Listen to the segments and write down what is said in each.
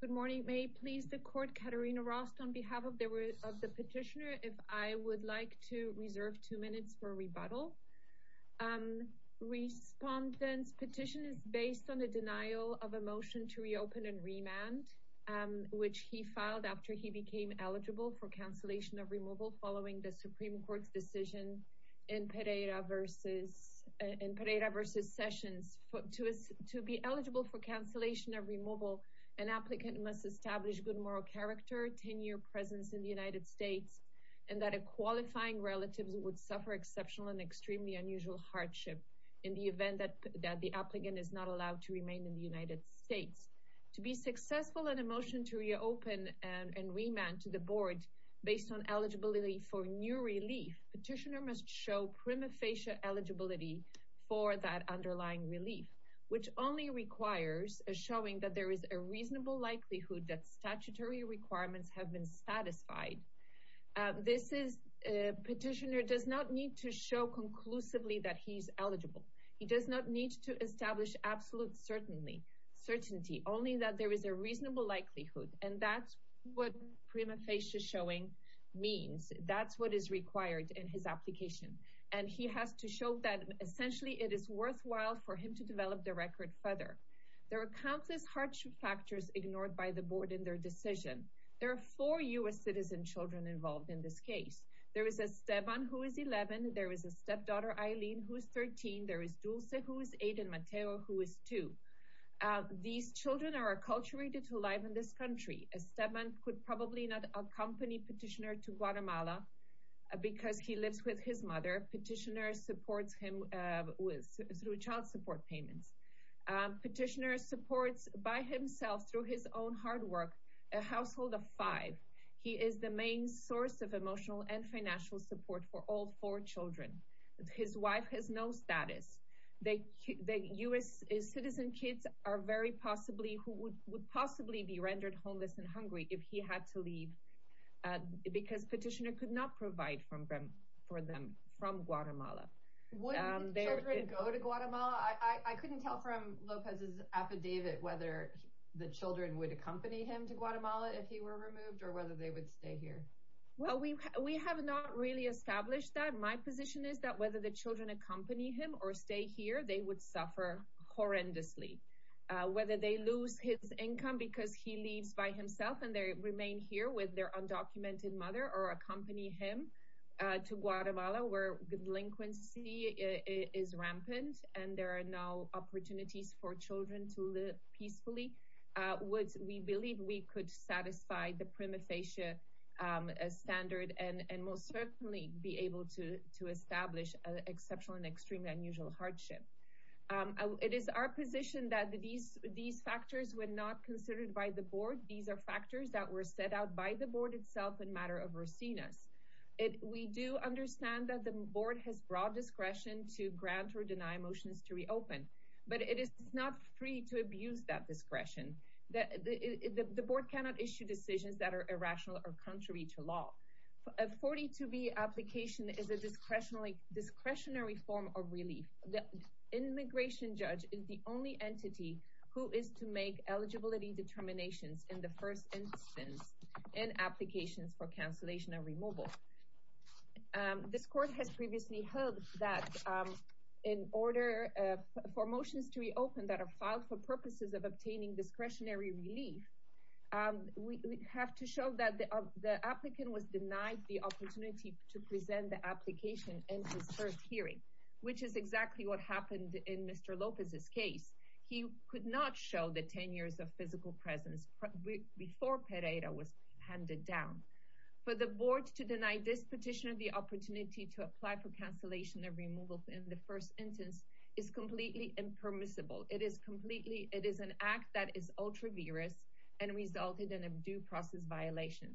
Good morning. May it please the Court, Katerina Rost on behalf of the Petitioner, if I would like to reserve two minutes for rebuttal. Respondent's petition is based on the denial of a motion to reopen and remand, which he filed after he became eligible for cancellation of removal following the Supreme Court's decision in Pereira v. Sessions To be eligible for cancellation of removal, an applicant must establish good moral character, tenure, presence in the United States, and that a qualifying relative would suffer exceptional and extremely unusual hardship in the event that the applicant is not allowed to remain in the United States. To be successful in a motion to reopen and remand to the Board based on eligibility for new relief, Petitioner must show prima facie eligibility for that underlying relief, which only requires a showing that there is a reasonable likelihood that statutory requirements have been satisfied. Petitioner does not need to show conclusively that he's eligible. He does not need to establish absolute certainty, only that there is a reasonable likelihood, and that's what prima facie showing means. That's what is required in his application, and he has to show that essentially it is worthwhile for him to develop the record further. There are countless hardship factors ignored by the Board in their decision. There are four U.S. citizen children involved in this case. There is Esteban, who is 11. There is a stepdaughter, Aileen, who is 13. There is Dulce, who is 8, and Mateo, who is 2. These children are acculturated to life in this country. Esteban could probably not accompany Petitioner to Guatemala because he lives with his mother. Petitioner supports him through child support payments. Petitioner supports by himself through his own hard work a household of five. He is the main source of emotional and financial support for all four children. His wife has no status. The U.S. citizen kids would possibly be rendered homeless and hungry if he had to leave because Petitioner could not provide for them from Guatemala. Would the children go to Guatemala? I couldn't tell from Lopez's affidavit whether the children would accompany him to Guatemala if he were removed or whether they would stay here. Well, we have not really established that. My position is that whether the children accompany him or stay here, they would suffer horrendously. Whether they lose his income because he leaves by himself and they remain here with their undocumented mother or accompany him to Guatemala, where delinquency is rampant and there are no opportunities for children to live peacefully, we believe we could satisfy the prima facie standard and most certainly be able to establish an exceptional and extremely unusual hardship. It is our position that these factors were not considered by the board. These are factors that were set out by the board itself in matter of Rosinas. We do understand that the board has broad discretion to grant or deny motions to reopen, but it is not free to abuse that discretion. The board cannot issue decisions that are irrational or contrary to law. A 42B application is a discretionary form of relief. The immigration judge is the only entity who is to make eligibility determinations in the first instance in applications for cancellation and removal. This court has previously held that in order for motions to reopen that are filed for purposes of obtaining discretionary relief, we have to show that the applicant was denied the opportunity to present the application in his first hearing, which is exactly what happened in Mr. Lopez's case. He could not show the 10 years of physical presence before Pereira was handed down. For the board to deny this petitioner the opportunity to apply for cancellation and removal in the first instance is completely impermissible. It is completely it is an act that is ultra virus and resulted in a due process violation.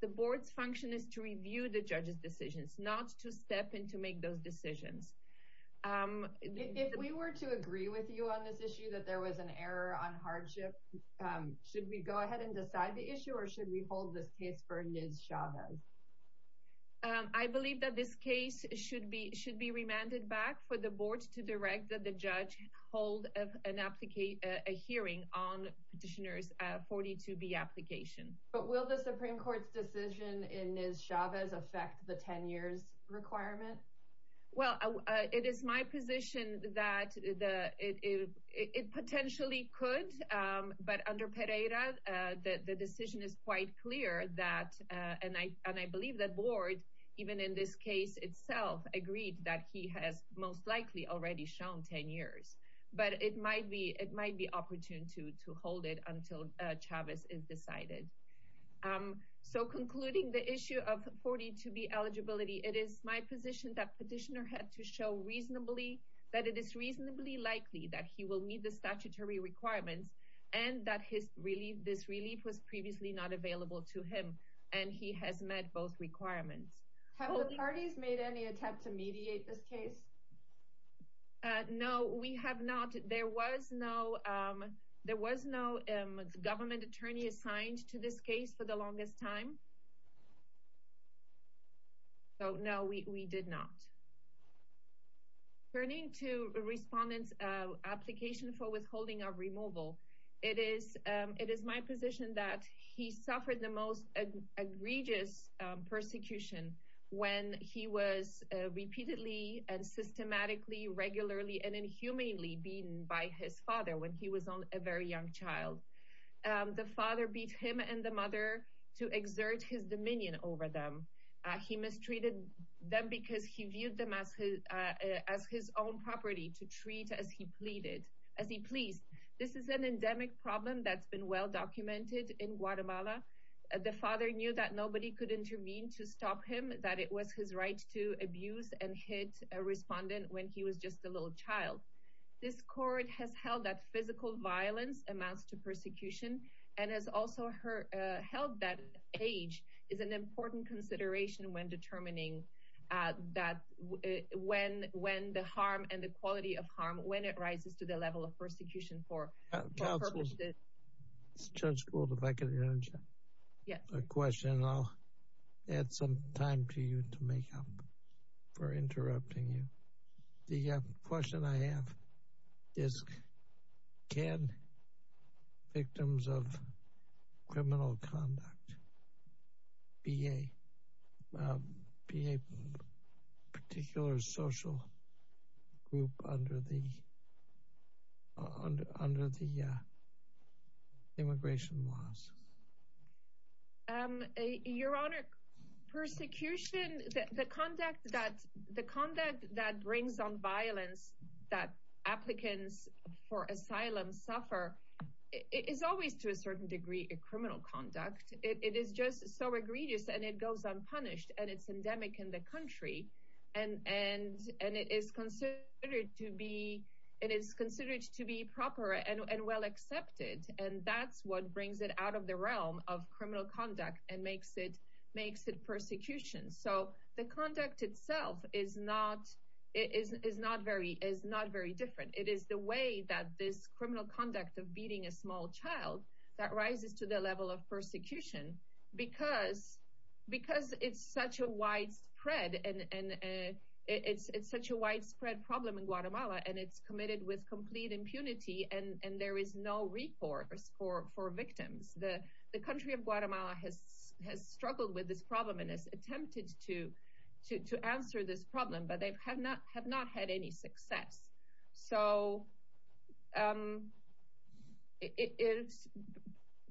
The board's function is to review the judge's decisions, not to step in to make those decisions. If we were to agree with you on this issue that there was an error on hardship, should we go ahead and decide the issue or should we hold this case for Liz Chavez? I believe that this case should be should be remanded back for the board to direct that the judge hold an application hearing on petitioners 42B application. But will the Supreme Court's decision in Liz Chavez affect the 10 years requirement? Well, it is my position that it potentially could. But under Pereira, the decision is quite clear that and I and I believe that board, even in this case itself, agreed that he has most likely already shown 10 years. But it might be it might be opportune to to hold it until Chavez is decided. So concluding the issue of 42B eligibility, it is my position that petitioner had to show reasonably that it is reasonably likely that he will meet the statutory requirements and that his relief this relief was previously not available to him. And he has met both requirements. Have the parties made any attempt to mediate this case? No, we have not. There was no there was no government attorney assigned to this case for the longest time. So no, we did not. Turning to respondents application for withholding of removal, it is it is my position that he suffered the most egregious persecution when he was repeatedly and systematically regularly and inhumanely beaten by his father when he was a very young child. The father beat him and the mother to exert his dominion over them. He mistreated them because he viewed them as his own property to treat as he pleaded as he pleased. This is an endemic problem that's been well documented in Guatemala. The father knew that nobody could intervene to stop him, that it was his right to abuse and hit a respondent when he was just a little child. This court has held that physical violence amounts to persecution and has also held that age is an important consideration when determining that when when the harm and the quality of harm when it rises to the level of persecution for. Judge Gould, if I could ask you a question, I'll add some time to you to make up for interrupting you. The question I have is, can victims of criminal conduct be a particular social group under the under the immigration laws? Your Honor, persecution, the conduct that the conduct that brings on violence that applicants for asylum suffer is always to a certain degree a criminal conduct. It is just so egregious and it goes unpunished and it's endemic in the country and and and it is considered to be it is considered to be proper and well accepted. And that's what brings it out of the realm of criminal conduct and makes it makes it persecution. So the conduct itself is not is not very is not very different. It is the way that this criminal conduct of beating a small child that rises to the level of persecution because because it's such a widespread and it's it's such a widespread problem in Guatemala and it's committed with complete impunity and there is no recourse for for victims. The country of Guatemala has has struggled with this problem and has attempted to to to answer this problem, but they have not have not had any success. So it is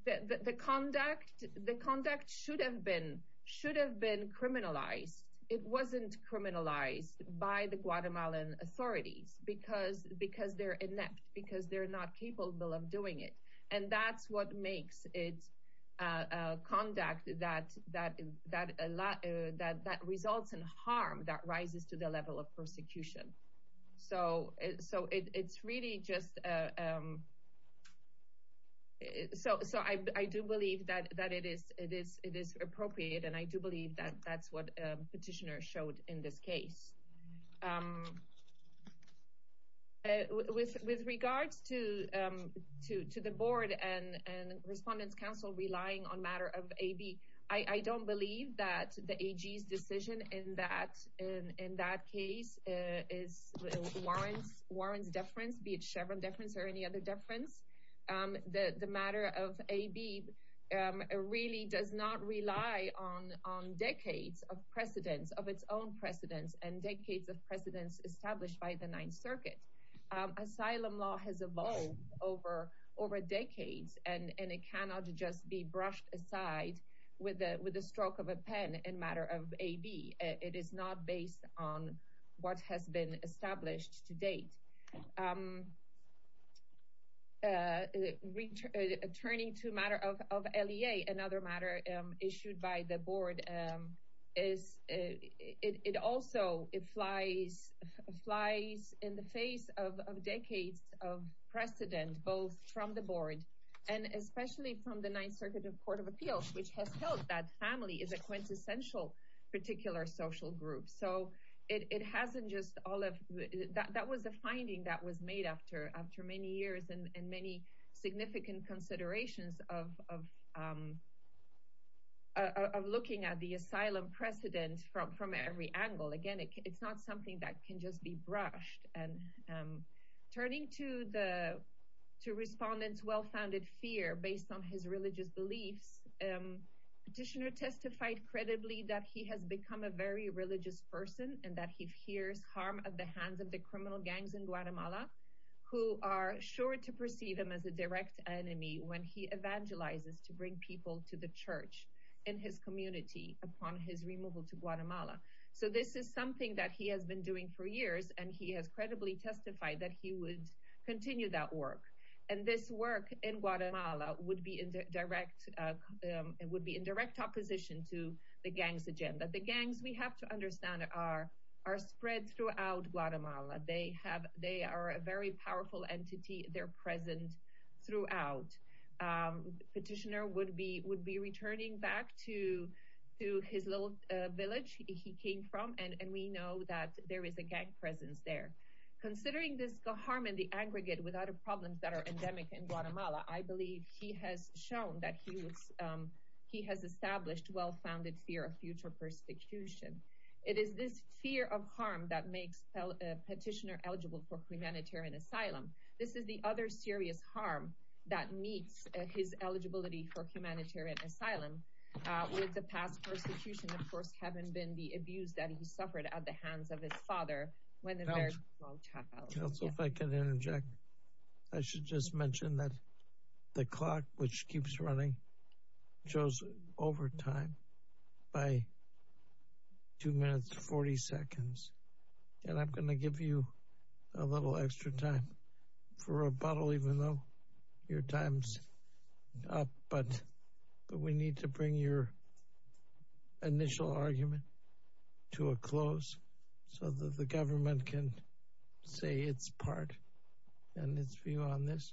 the conduct the conduct should have been should have been criminalized. It wasn't criminalized by the Guatemalan authorities because because they're inept, because they're not capable of doing it. And that's what makes it conduct that that that that results in harm that rises to the level of persecution. So so it's really just so so I do believe that that it is it is it is appropriate and I do believe that that's what petitioner showed in this case. With regards to to to the board and and Respondents Council relying on matter of a B, I don't believe that the decision in that in that case is warrants warrants difference, be it Chevron difference or any other difference. The matter of a B really does not rely on on decades of precedents of its own precedents and decades of precedents established by the Ninth Circuit. Asylum law has evolved over over decades and and it cannot just be brushed aside with a with a stroke of a pen and matter of a B. It is not based on what has been established to date. It also it flies flies in the face of decades of precedent, both from the board and especially from the Ninth Circuit of Court of Appeals, which has held that family is a quintessential particular social group. So it hasn't just all of that. That was a finding that was made after after many years and many significant considerations of. Of looking at the asylum precedent from from every angle again, it's not something that can just be brushed and turning to the to respondents well founded fear based on his religious beliefs. Petitioner testified credibly that he has become a very religious person and that he hears harm of the hands of the criminal gangs in Guatemala, who are sure to perceive them as a direct enemy when he evangelizes to bring people to the church in his community upon his removal to Guatemala. So this is something that he has been doing for years and he has credibly testified that he would continue that work and this work in Guatemala would be in direct would be in direct opposition to the gangs agenda. The gangs we have to understand are are spread throughout Guatemala. They have they are a very powerful entity. They're present throughout petitioner would be would be returning back to to his little village. He came from and we know that there is a gang presence there considering this the harm in the aggregate without a problem that are endemic in Guatemala. I believe he has shown that he was. He has established well founded fear of future persecution. It is this fear of harm that makes petitioner eligible for humanitarian asylum. This is the other serious harm that meets his eligibility for humanitarian asylum. With the past persecution, of course, having been the abuse that he suffered at the hands of his father. So if I can interject, I should just mention that the clock, which keeps running, shows over time by two minutes, 40 seconds. And I'm going to give you a little extra time for a bottle, even though your time's up. But but we need to bring your initial argument to a close so that the government can say its part and its view on this.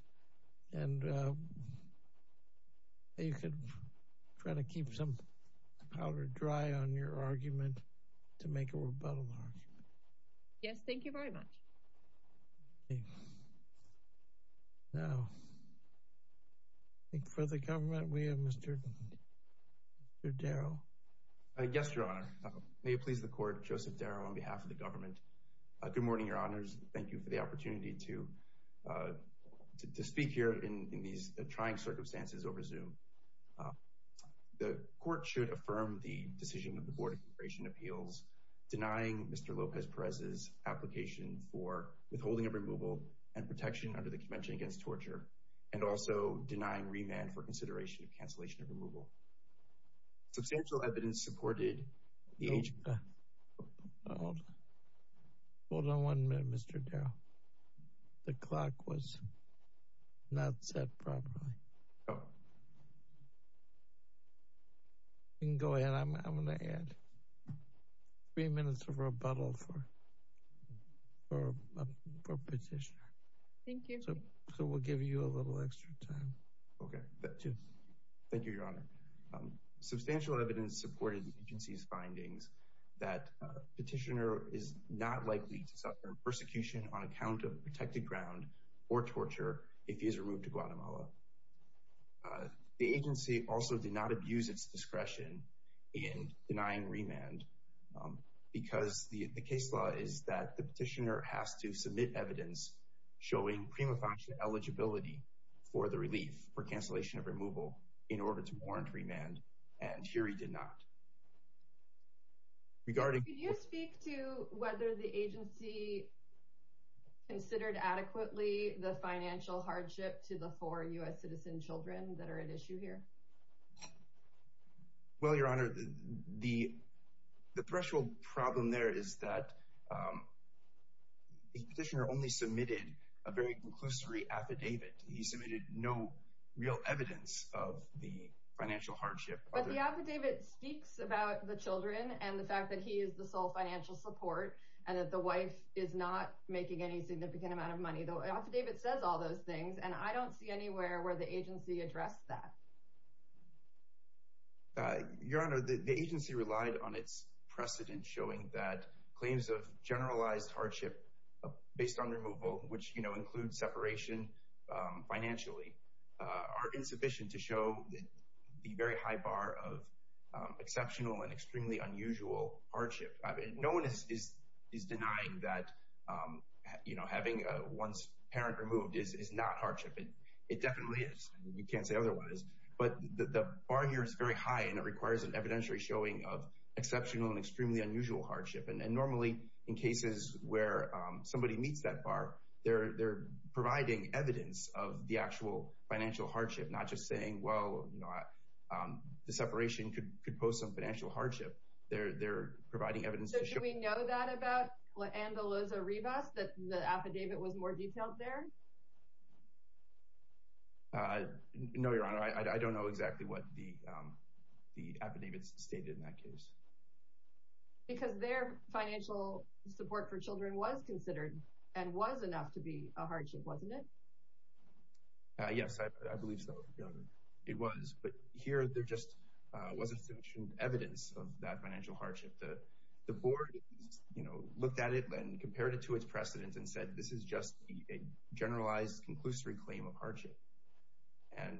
And you can try to keep some powder dry on your argument to make a rebuttal. Yes, thank you very much. Now, for the government, we have Mr. Darrow. Yes, Your Honor. May it please the court, Joseph Darrow on behalf of the government. Good morning, Your Honors. Thank you for the opportunity to speak here in these trying circumstances over Zoom. The court should affirm the decision of the Board of Immigration Appeals denying Mr. Lopez Perez's application for withholding of removal and protection under the Convention Against Torture and also denying remand for consideration of cancellation of removal. Substantial evidence supported the age. Hold on one minute, Mr. Darrow. The clock was not set properly. You can go ahead. I'm going to add three minutes of rebuttal for a petitioner. Thank you. So we'll give you a little extra time. OK. Thank you, Your Honor. Substantial evidence supported the agency's findings that petitioner is not likely to suffer persecution on account of protected ground or torture if he is removed to Guatemala. The agency also did not abuse its discretion in denying remand because the case law is that the petitioner has to submit evidence showing prima facie eligibility for the relief for cancellation of removal in order to warrant remand. And here he did not. Regarding you speak to whether the agency considered adequately the financial hardship to the four U.S. citizen children that are at issue here. Well, Your Honor, the the threshold problem there is that the petitioner only submitted a very conclusive affidavit. He submitted no real evidence of the financial hardship. But the affidavit speaks about the children and the fact that he is the sole financial support and that the wife is not making any significant amount of money. The affidavit says all those things. And I don't see anywhere where the agency addressed that. Your Honor, the agency relied on its precedent showing that claims of generalized hardship based on removal, which includes separation financially, are insufficient to show the very high bar of exceptional and extremely unusual hardship. No one is denying that, you know, having one's parent removed is not hardship. It definitely is. You can't say otherwise. But the bar here is very high and it requires an evidentiary showing of exceptional and extremely unusual hardship. And normally in cases where somebody meets that bar, they're they're providing evidence of the actual financial hardship, not just saying, well, you know, the separation could could pose some financial hardship. They're they're providing evidence that we know that about. And Eliza Rebus, that the affidavit was more detailed there. No, Your Honor, I don't know exactly what the the affidavits stated in that case. Because their financial support for children was considered and was enough to be a hardship, wasn't it? Yes, I believe so. It was. But here there just wasn't sufficient evidence of that financial hardship. The board, you know, looked at it and compared it to its precedent and said, this is just a generalized conclusory claim of hardship. And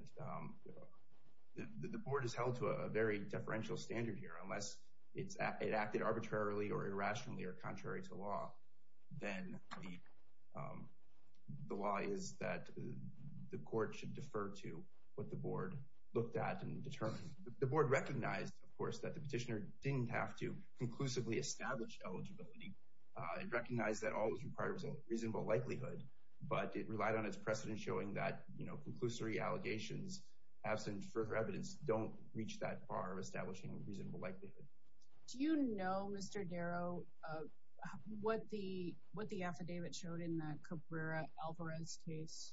the board is held to a very deferential standard here unless it's acted arbitrarily or irrationally or contrary to law. Then the law is that the court should defer to what the board looked at and determined. The board recognized, of course, that the petitioner didn't have to conclusively establish eligibility. It recognized that all was required was a reasonable likelihood, but it relied on its precedent showing that, you know, conclusory allegations absent further evidence don't reach that far of establishing a reasonable likelihood. Do you know, Mr. Darrow, what the what the affidavit showed in that Cabrera-Alvarez case,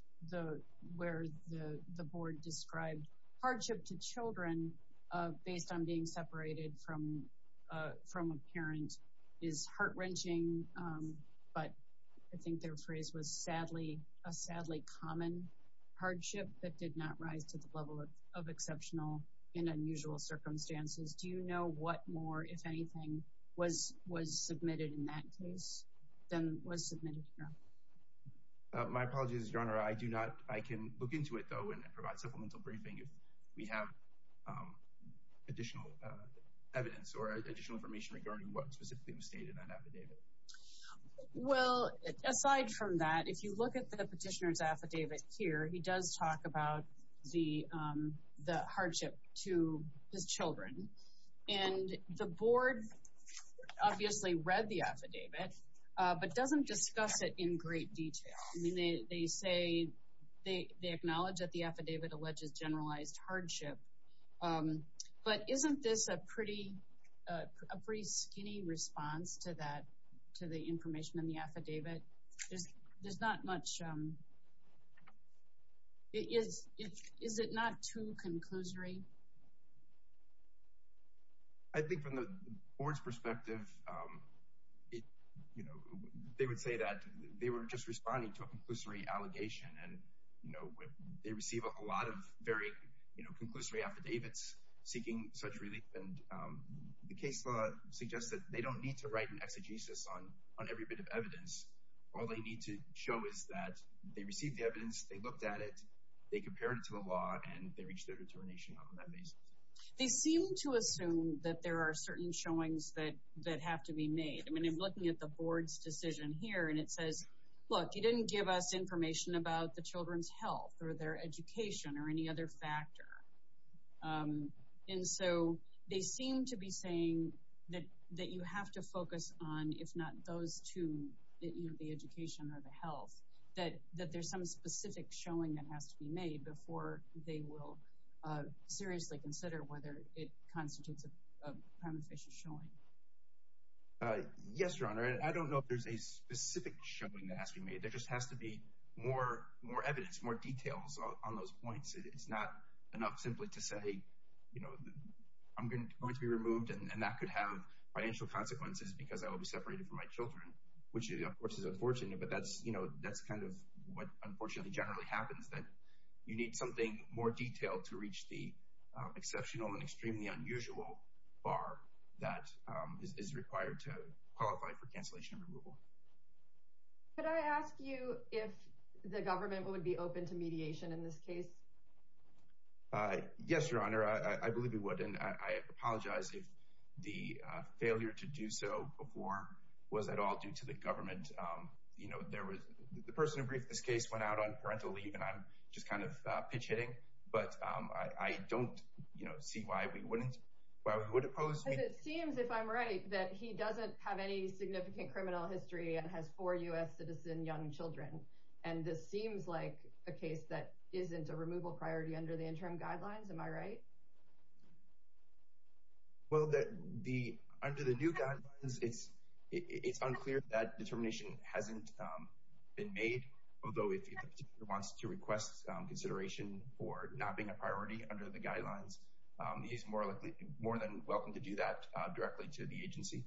where the board described hardship to children based on being separated from a parent is heart wrenching. But I think their phrase was sadly a sadly common hardship that did not rise to the level of exceptional in unusual circumstances. Do you know what more, if anything, was was submitted in that case than was submitted here? My apologies, Your Honor. I do not. I can look into it, though, and provide supplemental briefing if we have additional evidence or additional information regarding what specifically was stated in that affidavit. Well, aside from that, if you look at the petitioner's affidavit here, he does talk about the the hardship to his children. And the board obviously read the affidavit, but doesn't discuss it in great detail. I mean, they say they acknowledge that the affidavit alleges generalized hardship. But isn't this a pretty a pretty skinny response to that, to the information in the affidavit? There's not much. Is it not too conclusory? I think from the board's perspective, you know, they would say that they were just responding to a conclusory allegation. And, you know, they receive a lot of very, you know, conclusory affidavits seeking such relief. And the case law suggests that they don't need to write an exegesis on every bit of evidence. All they need to show is that they received the evidence, they looked at it, they compared it to the law, and they reached their determination on that basis. They seem to assume that there are certain showings that have to be made. I mean, I'm looking at the board's decision here, and it says, look, you didn't give us information about the children's health or their education or any other factor. And so they seem to be saying that that you have to focus on, if not those two, the education or the health, that there's some specific showing that has to be made before they will seriously consider whether it constitutes a prima facie showing. Yes, Your Honor. I don't know if there's a specific showing that has to be made. There just has to be more evidence, more details on those points. It's not enough simply to say, you know, I'm going to be removed and that could have financial consequences because I will be separated from my children, which of course is unfortunate, but that's kind of what unfortunately generally happens, that you need something more detailed to reach the exceptional and extremely unusual bar that is required to qualify for cancellation removal. Could I ask you if the government would be open to mediation in this case? Yes, Your Honor, I believe we would. And I apologize if the failure to do so before was at all due to the government. You know, there was the person who briefed this case went out on parental leave and I'm just kind of pitch hitting, but I don't see why we wouldn't why we would oppose. It seems, if I'm right, that he doesn't have any significant criminal history and has four U.S. citizen young children. And this seems like a case that isn't a removal priority under the interim guidelines. Am I right? Well, under the new guidelines, it's unclear that determination hasn't been made, although if he wants to request consideration for not being a priority under the guidelines, he's more than welcome to do that directly to the agency.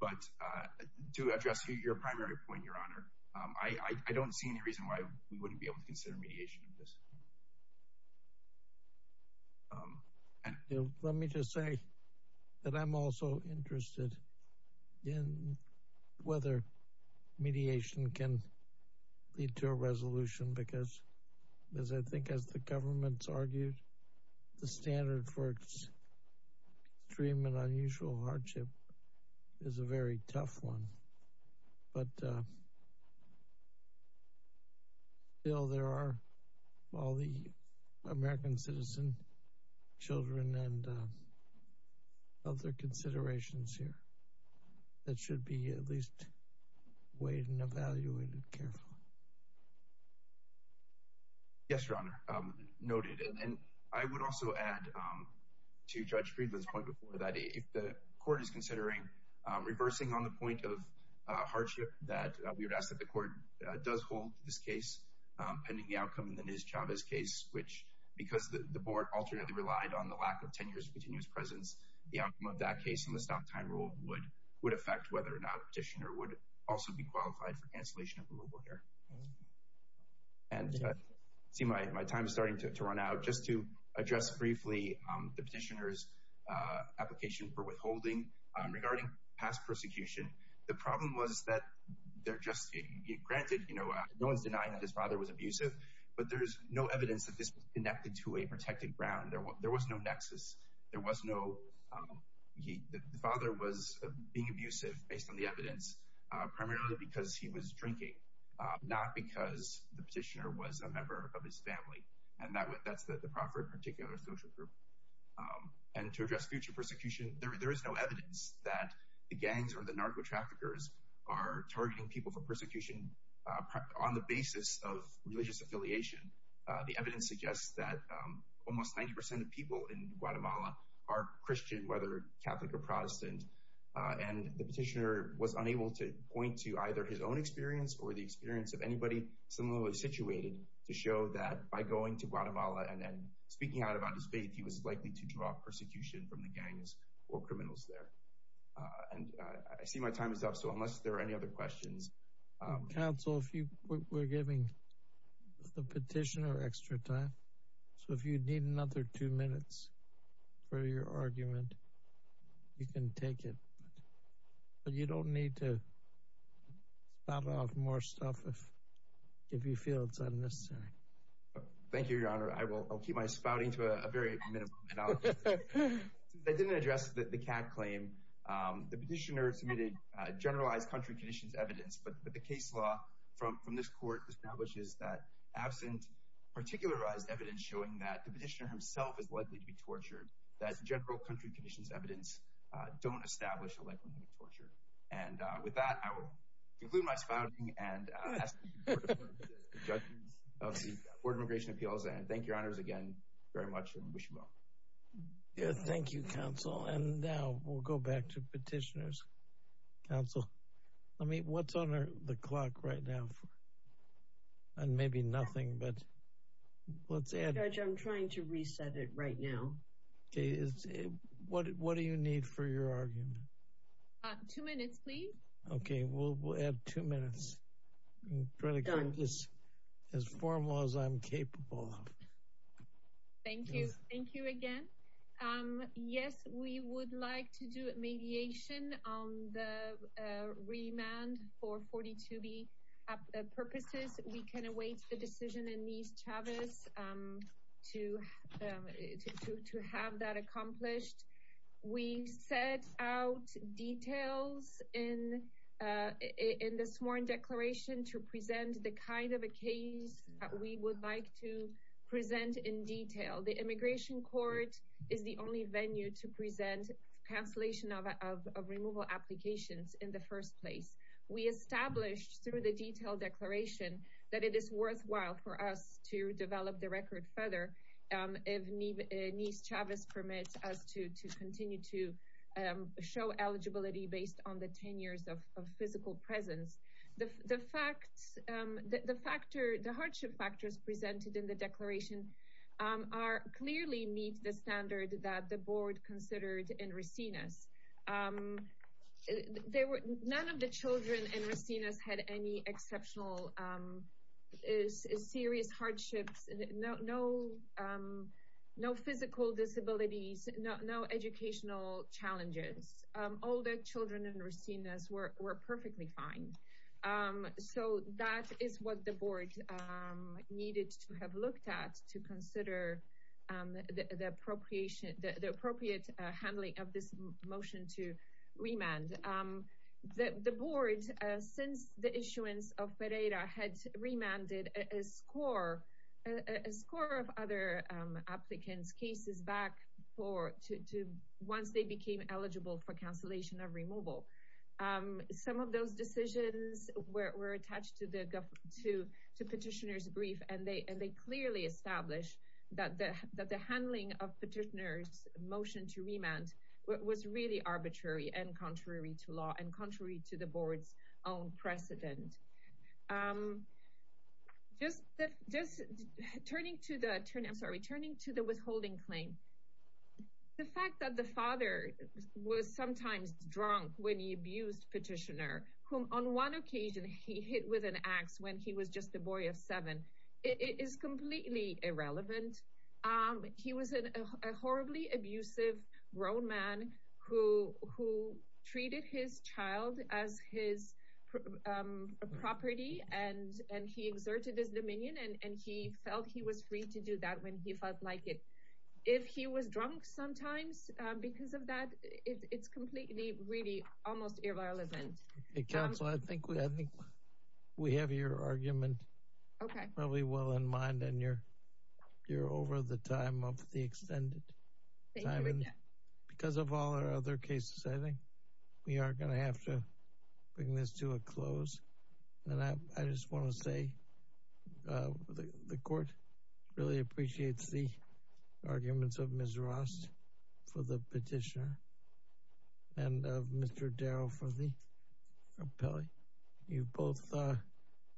But to address your primary point, Your Honor, I don't see any reason why we wouldn't be able to consider mediation of this. Let me just say that I'm also interested in whether mediation can lead to a resolution, because as I think as the government's argued, the standard for extreme and unusual hardship is a very tough one. But still, there are all the American citizen children and other considerations here that should be at least weighed and evaluated carefully. Yes, Your Honor. Noted. And I would also add to Judge Friedland's point before that, if the court is considering reversing on the point of hardship, that we would ask that the court does hold this case pending the outcome in the Nez Chavez case, which because the board alternately relied on the lack of 10 years of continuous presence, the outcome of that case in the stock time rule would affect whether or not the petitioner would also be qualified for cancellation of removal here. And I see my time is starting to run out. Just to address briefly the petitioner's application for withholding regarding past persecution, the problem was that they're just granted, you know, no one's denying that his father was abusive, but there's no evidence that this was connected to a protected ground. There was no nexus. The father was being abusive, based on the evidence, primarily because he was drinking, not because the petitioner was a member of his family. And that's the proffered particular social group. And to address future persecution, there is no evidence that the gangs or the narco-traffickers are targeting people for persecution on the basis of religious affiliation. The evidence suggests that almost 90% of people in Guatemala are Christian, whether Catholic or Protestant. And the petitioner was unable to point to either his own experience or the experience of anybody similarly situated to show that by going to Guatemala and speaking out about his faith, he was likely to draw persecution from the gangs or criminals there. And I see my time is up, so unless there are any other questions... Counsel, we're giving the petitioner extra time. So if you need another two minutes for your argument, you can take it. But you don't need to spout off more stuff if you feel it's unnecessary. Thank you, Your Honor. I'll keep my spouting to a very minimum. I didn't address the CAD claim. The petitioner submitted generalized country conditions evidence, but the case law from this court establishes that absent particularized evidence showing that the petitioner himself is likely to be tortured, that general country conditions evidence don't establish a likelihood of torture. And with that, I will conclude my spouting and ask you to defer to the judges of the Board of Immigration Appeals. And thank you, Your Honors, again very much and wish you well. Thank you, Counsel. And now we'll go back to petitioners. Counsel, what's on the clock right now? And maybe nothing, but let's add... Judge, I'm trying to reset it right now. What do you need for your argument? Two minutes, please. Okay, we'll add two minutes. Done. As formal as I'm capable of. Thank you. Thank you again. Yes, we would like to do a mediation on the remand for 42B purposes. We can await the decision in Ms. Chavez to have that accomplished. We set out details in the sworn declaration to present the kind of a case that we would like to present in detail. The immigration court is the only venue to present cancellation of removal applications in the first place. We established through the detailed declaration that it is worthwhile for us to develop the record further if Ms. Chavez permits us to continue to show eligibility based on the 10 years of physical presence. The hardship factors presented in the declaration are clearly meet the standard that the board considered in Resinas. None of the children in Resinas had any exceptional serious hardships, no physical disabilities, no educational challenges. All the children in Resinas were perfectly fine. So that is what the board needed to have looked at to consider the appropriate handling of this motion to remand. The board, since the issuance of Pereira, had remanded a score of other applicants' cases back once they became eligible for cancellation of removal. Some of those decisions were attached to the petitioner's brief. They clearly established that the handling of petitioner's motion to remand was really arbitrary and contrary to law and contrary to the board's own precedent. Turning to the withholding claim, the fact that the father was sometimes drunk when he abused petitioner, whom on one occasion he hit with an axe when he was just a boy of seven, is completely irrelevant. He was a horribly abusive grown man who treated his child as his property and he exerted his dominion and he felt he was free to do that when he felt like it. If he was drunk sometimes because of that, it's completely, really almost irrelevant. Counsel, I think we have your argument probably well in mind and you're over the time of the extended time. I mean, because of all our other cases, I think we are going to have to bring this to a close. And I just want to say the court really appreciates the arguments of Ms. Ross for the petitioner and of Mr. Darrow for the appellee. You both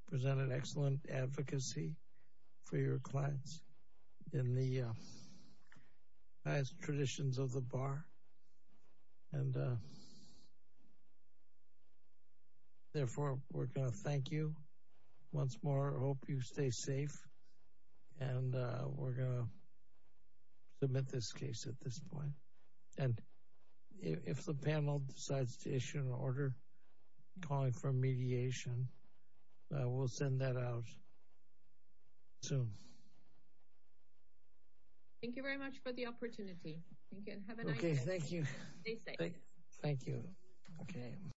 presented excellent advocacy for your clients in the highest traditions of the bar. And therefore, we're going to thank you once more. I hope you stay safe and we're going to submit this case at this point. And if the panel decides to issue an order calling for mediation, we'll send that out soon. Thank you very much for the opportunity. Thank you and have a nice day. Thank you. Stay safe. Thank you.